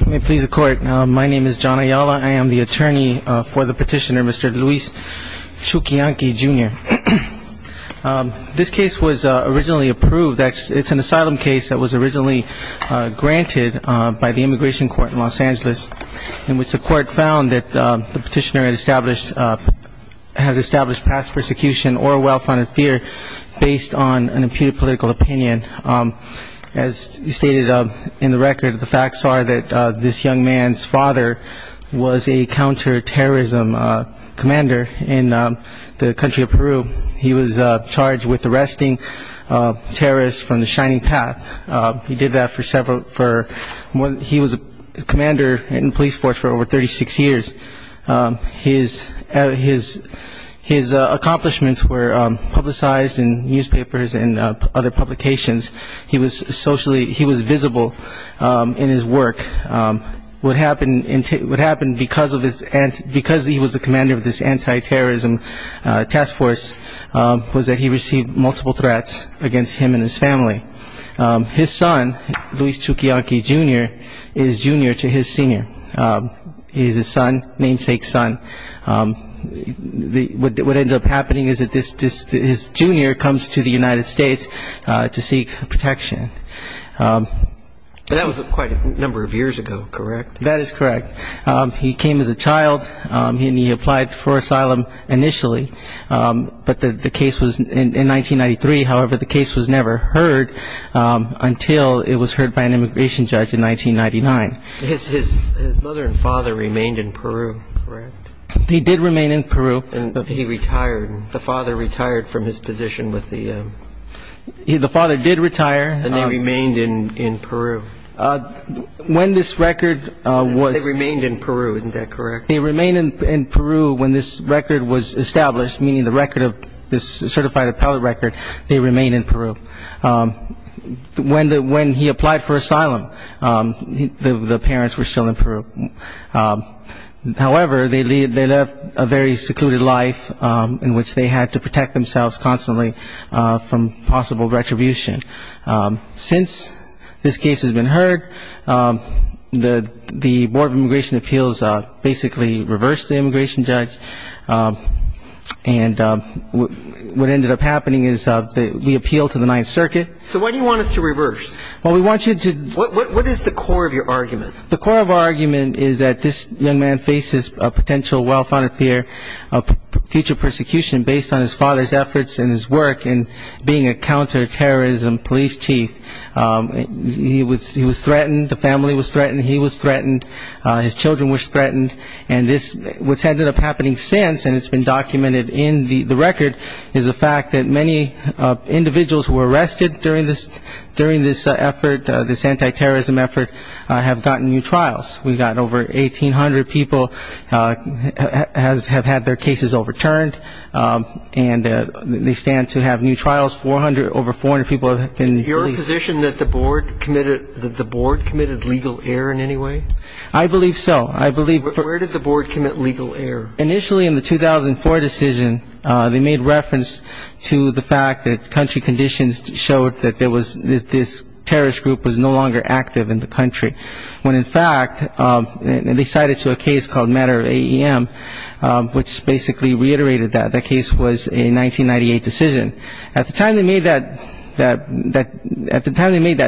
Let me please the court. My name is John Ayala. I am the attorney for the petitioner, Mr. Luis Chuquillanqi Jr. This case was originally approved. It's an asylum case that was originally granted by the Immigration Court in Los Angeles, in which the court found that the petitioner had established past persecution or well-founded fear based on an imputed political opinion. As stated in the record, the facts are that this young man's father was a counterterrorism commander in the country of Peru. He was charged with arresting terrorists from the Shining Path. He did that for several – he was a commander in the police force for over 36 years. His accomplishments were publicized in newspapers and other publications. He was socially – he was visible in his work. What happened because of his – because he was a commander of this anti-terrorism task force was that he received multiple threats against him and his family. His son, Luis Chuquillanqi Jr., is junior to his senior. He's his son, namesake son. What ends up happening is that this – his junior comes to the United States to seek protection. That was quite a number of years ago, correct? That is correct. He came as a child, and he applied for asylum initially. But the case was in 1993. However, the case was never heard until it was heard by an immigration judge in 1999. His mother and father remained in Peru, correct? They did remain in Peru. And he retired. The father retired from his position with the – The father did retire. And they remained in Peru. When this record was – They remained in Peru. Isn't that correct? They remained in Peru when this record was established, meaning the record of this certified appellate record, they remained in Peru. When he applied for asylum, the parents were still in Peru. However, they lived a very secluded life in which they had to protect themselves constantly from possible retribution. Since this case has been heard, the Board of Immigration Appeals basically reversed the immigration judge. And what ended up happening is we appealed to the Ninth Circuit. So why do you want us to reverse? Well, we want you to – What is the core of your argument? The core of our argument is that this young man faces a potential well-founded fear of future persecution based on his father's efforts and his work in being a counterterrorism police chief. He was threatened. The family was threatened. He was threatened. His children were threatened. And this – What's ended up happening since, and it's been documented in the record, is the fact that many individuals who were arrested during this effort, this anti-terrorism effort, have gotten new trials. We've got over 1,800 people have had their cases overturned, and they stand to have new trials. Over 400 people have been released. Is it your position that the board committed legal error in any way? I believe so. Where did the board commit legal error? Initially in the 2004 decision, they made reference to the fact that country conditions showed that this terrorist group was no longer active in the country. When, in fact, they cited to a case called Matter of AEM, which basically reiterated that. That case was a 1998 decision. At the time they made that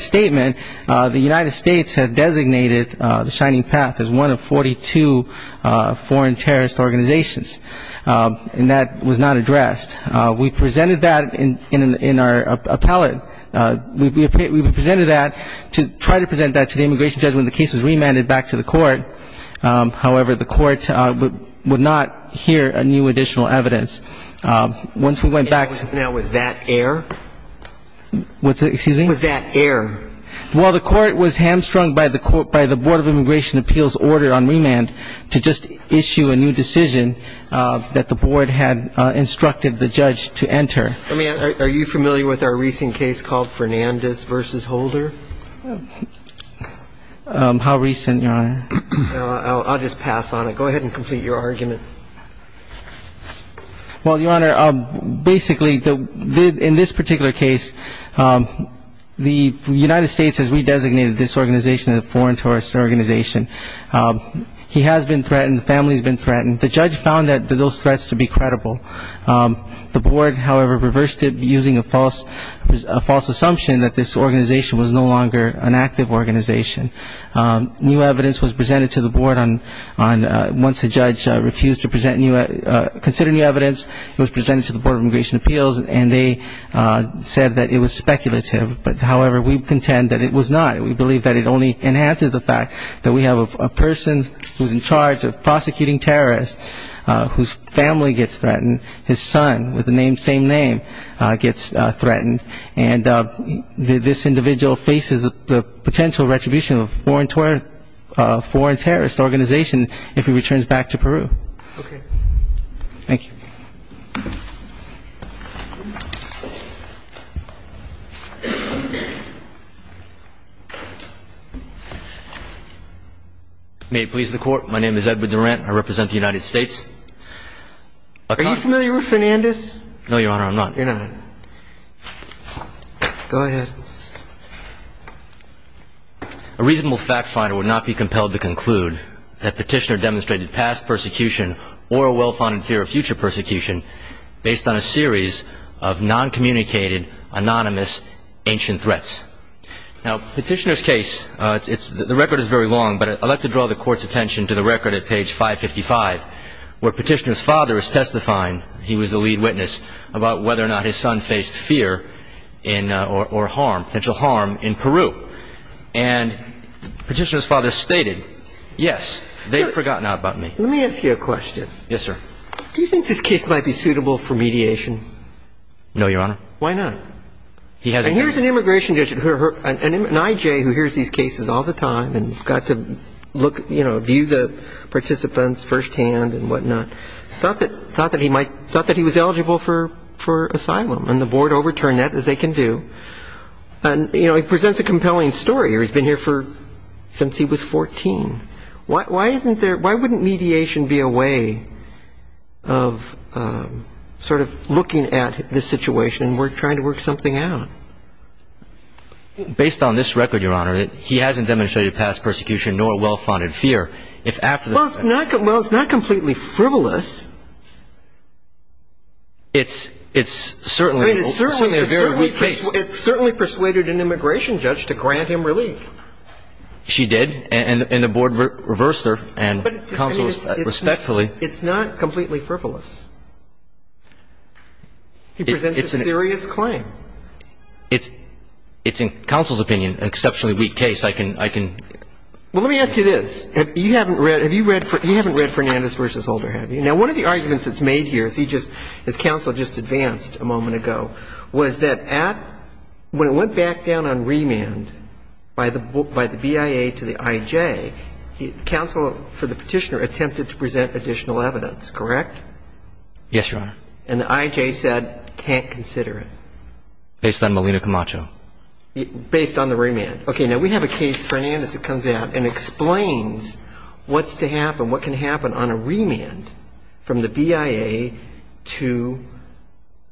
statement, the United States had designated the Shining Path as one of 42 foreign terrorist organizations, and that was not addressed. We presented that in our appellate. We presented that to try to present that to the immigration judge when the case was remanded back to the court. However, the court would not hear new additional evidence. Now, was that error? Excuse me? Was that error? Well, the court was hamstrung by the board of immigration appeals order on remand to just issue a new decision that the board had instructed the judge to enter. Are you familiar with our recent case called Fernandez v. Holder? How recent, Your Honor? I'll just pass on it. Go ahead and complete your argument. Well, Your Honor, basically in this particular case, the United States has redesignated this organization as a foreign terrorist organization. He has been threatened. The family has been threatened. The judge found those threats to be credible. The board, however, reversed it using a false assumption that this organization was no longer an active organization. New evidence was presented to the board once the judge refused to consider new evidence. It was presented to the board of immigration appeals, and they said that it was speculative. However, we contend that it was not. We believe that it only enhances the fact that we have a person who's in charge of prosecuting terrorists whose family gets threatened, his son with the same name gets threatened, and this individual faces the potential retribution of a foreign terrorist organization if he returns back to Peru. Okay. Thank you. May it please the Court. My name is Edward Durant. I represent the United States. Are you familiar with Fernandez? No, Your Honor, I'm not. You're not. Go ahead. A reasonable fact finder would not be compelled to conclude that Petitioner demonstrated past persecution or a well-founded fear of future persecution. based on a series of noncommunicated, anonymous, ancient threats. Now, Petitioner's case, the record is very long, but I'd like to draw the Court's attention to the record at page 555, where Petitioner's father is testifying, he was the lead witness, about whether or not his son faced fear or harm, potential harm in Peru. And Petitioner's father stated, yes, they've forgotten about me. Let me ask you a question. Yes, sir. Do you think this case might be suitable for mediation? No, Your Honor. Why not? He has a case. And here's an immigration judge, an I.J. who hears these cases all the time and got to look, you know, view the participants firsthand and whatnot, thought that he was eligible for asylum, and the Board overturned that as they can do. And, you know, he presents a compelling story, or he's been here since he was 14. Why wouldn't mediation be a way of sort of looking at this situation and trying to work something out? Based on this record, Your Honor, he hasn't demonstrated past persecution nor well-founded fear. Well, it's not completely frivolous. It's certainly a very weak case. It certainly persuaded an immigration judge to grant him relief. She did. And the Board reversed her, and counsel respectfully. It's not completely frivolous. He presents a serious claim. It's in counsel's opinion an exceptionally weak case. I can ‑‑ Well, let me ask you this. You haven't read ‑‑ have you read ‑‑ you haven't read Fernandez v. Holder, have you? Now, one of the arguments that's made here, as he just ‑‑ as counsel just advanced a moment ago, was that at ‑‑ when it went back down on remand by the BIA to the I.J., counsel, for the Petitioner, attempted to present additional evidence, correct? Yes, Your Honor. And the I.J. said can't consider it. Based on Melina Camacho. Based on the remand. Okay. Now, we have a case, Fernandez, that comes out and explains what's to happen, what can happen on a remand from the BIA to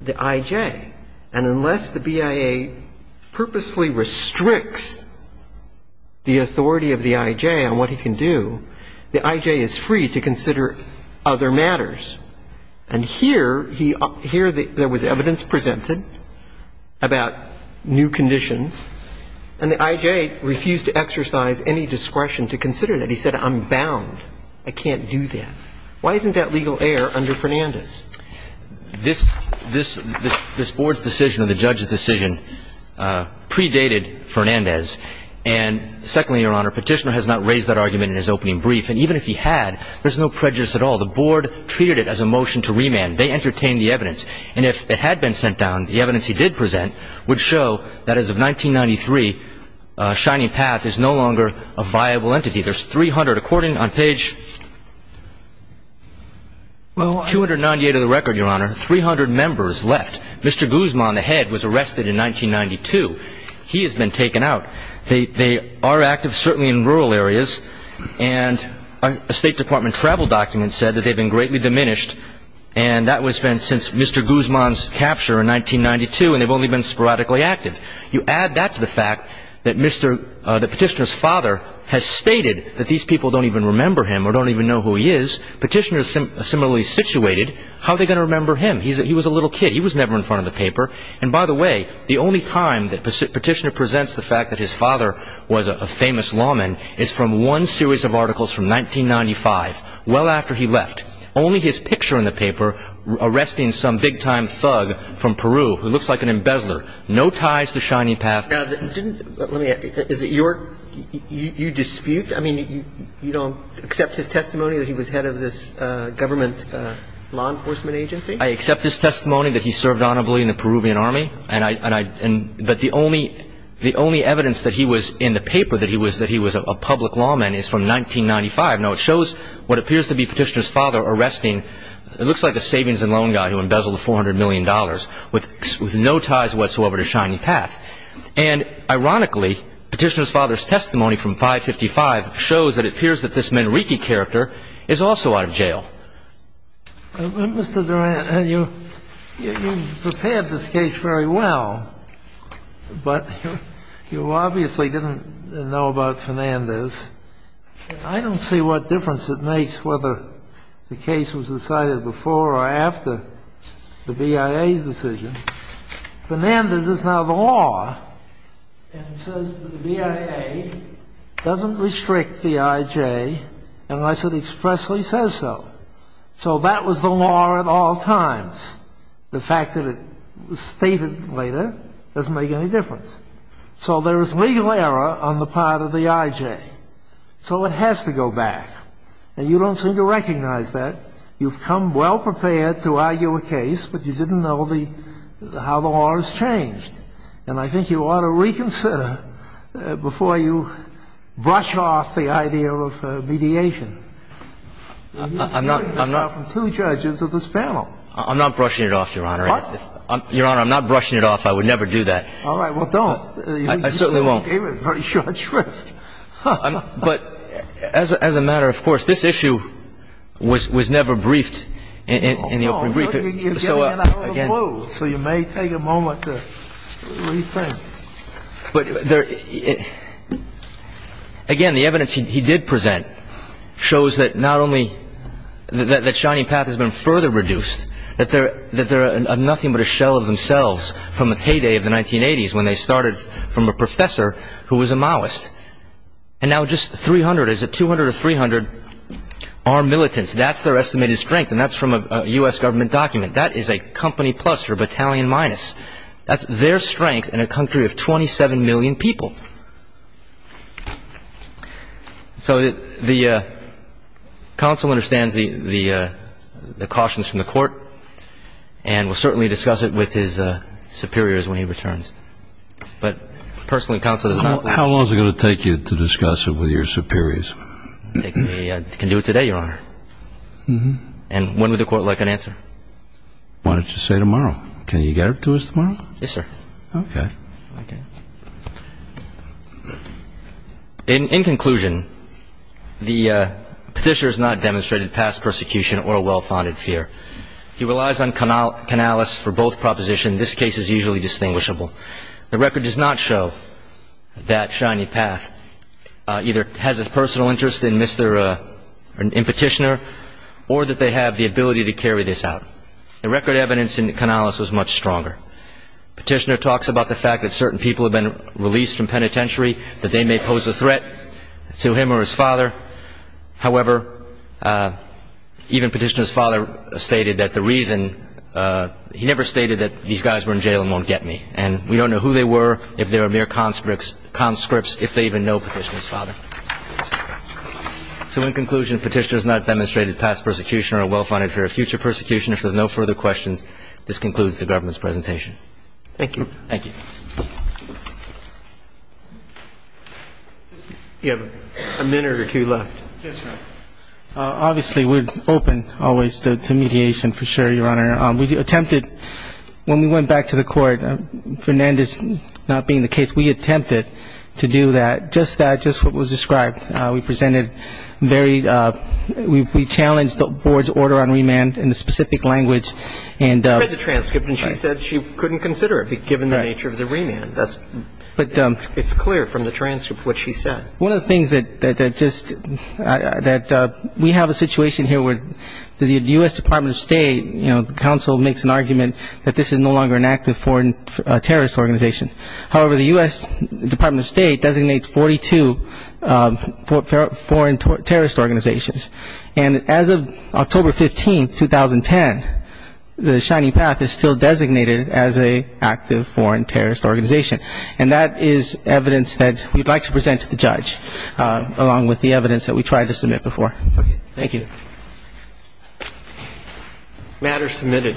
the I.J. And unless the BIA purposefully restricts the authority of the I.J. on what he can do, the I.J. is free to consider other matters. And here, there was evidence presented about new conditions, and the I.J. refused to exercise any discretion to consider that. He said I'm bound. I can't do that. Why isn't that legal error under Fernandez? This board's decision or the judge's decision predated Fernandez. And secondly, Your Honor, Petitioner has not raised that argument in his opening brief. And even if he had, there's no prejudice at all. The board treated it as a motion to remand. They entertained the evidence. And if it had been sent down, the evidence he did present would show that as of 1993, Shining Path is no longer a viable entity. There's 300, according on page 298 of the record, Your Honor, 300 members left. Mr. Guzman, the head, was arrested in 1992. He has been taken out. They are active certainly in rural areas. And a State Department travel document said that they've been greatly diminished. And that has been since Mr. Guzman's capture in 1992, and they've only been sporadically active. You add that to the fact that Petitioner's father has stated that these people don't even remember him or don't even know who he is. Petitioner is similarly situated. How are they going to remember him? He was a little kid. He was never in front of the paper. And by the way, the only time that Petitioner presents the fact that his father was a famous lawman is from one series of articles from 1995, well after he left. Only his picture in the paper arresting some big-time thug from Peru who looks like an embezzler. No ties to Shining Path. Now, let me ask you, is it your dispute? I mean, you don't accept his testimony that he was head of this government law enforcement agency? I accept his testimony that he served honorably in the Peruvian Army. But the only evidence that he was in the paper that he was a public lawman is from 1995. Now, it shows what appears to be Petitioner's father arresting what looks like a savings and loan guy who embezzled $400 million with no ties whatsoever to Shining Path. And ironically, Petitioner's father's testimony from 1955 shows that it appears that this Manrique character is also out of jail. Mr. Durant, you prepared this case very well, but you obviously didn't know about Fernandez. I don't see what difference it makes whether the case was decided before or after the BIA's decision. Fernandez is now the law and says that the BIA doesn't restrict the IJ unless it expressly says so. So that was the law at all times. The fact that it was stated later doesn't make any difference. So there is legal error on the part of the IJ. So it has to go back. And you don't seem to recognize that. You've come well-prepared to argue a case, but you didn't know how the law has changed. And I think you ought to reconsider before you brush off the idea of mediation. You're hearing this now from two judges of this panel. I'm not brushing it off, Your Honor. What? Your Honor, I'm not brushing it off. I would never do that. All right. Well, don't. I certainly won't. You gave it a very short shrift. But as a matter of course, this issue was never briefed in the open briefing. No, no. You gave me an hour to close. So you may take a moment to rethink. But, again, the evidence he did present shows that not only that Shining Path has been further reduced, that they're nothing but a shell of themselves from the heyday of the 1980s when they started from a professor who was a Maoist. And now just 300, is it 200 or 300, are militants. That's their estimated strength, and that's from a U.S. government document. That is a company plus or battalion minus. That's their strength in a country of 27 million people. So the counsel understands the cautions from the court and will certainly discuss it with his superiors when he returns. But personally, the counsel does not. How long is it going to take you to discuss it with your superiors? It can do it today, Your Honor. And when would the court like an answer? Why don't you say tomorrow? Can you get it to us tomorrow? Yes, sir. Okay. In conclusion, the petitioner has not demonstrated past persecution or a well-founded fear. He relies on canalis for both propositions. This case is usually distinguishable. The record does not show that Shining Path either has a personal interest in Petitioner or that they have the ability to carry this out. The record evidence in canalis was much stronger. Petitioner talks about the fact that certain people have been released from penitentiary, that they may pose a threat to him or his father. However, even Petitioner's father stated that the reason he never stated that these guys were in jail and won't get me. And we don't know who they were, if they were mere conscripts, if they even know Petitioner's father. So in conclusion, Petitioner has not demonstrated past persecution or a well-founded fear of future persecution. If there are no further questions, this concludes the government's presentation. Thank you. Thank you. You have a minute or two left. Yes, sir. Obviously, we're open always to mediation, for sure, Your Honor. We attempted, when we went back to the court, Fernandez not being the case, we attempted to do that. Just that, just what was described. We presented very ñ we challenged the board's order on remand in a specific language. You read the transcript, and she said she couldn't consider it, given the nature of the remand. It's clear from the transcript what she said. One of the things that just ñ that we have a situation here where the U.S. Department of State, you know, the council makes an argument that this is no longer an active foreign terrorist organization. However, the U.S. Department of State designates 42 foreign terrorist organizations. And as of October 15, 2010, the Shining Path is still designated as an active foreign terrorist organization. And that is evidence that we'd like to present to the judge, along with the evidence that we tried to submit before. Okay. Thank you. Matter submitted.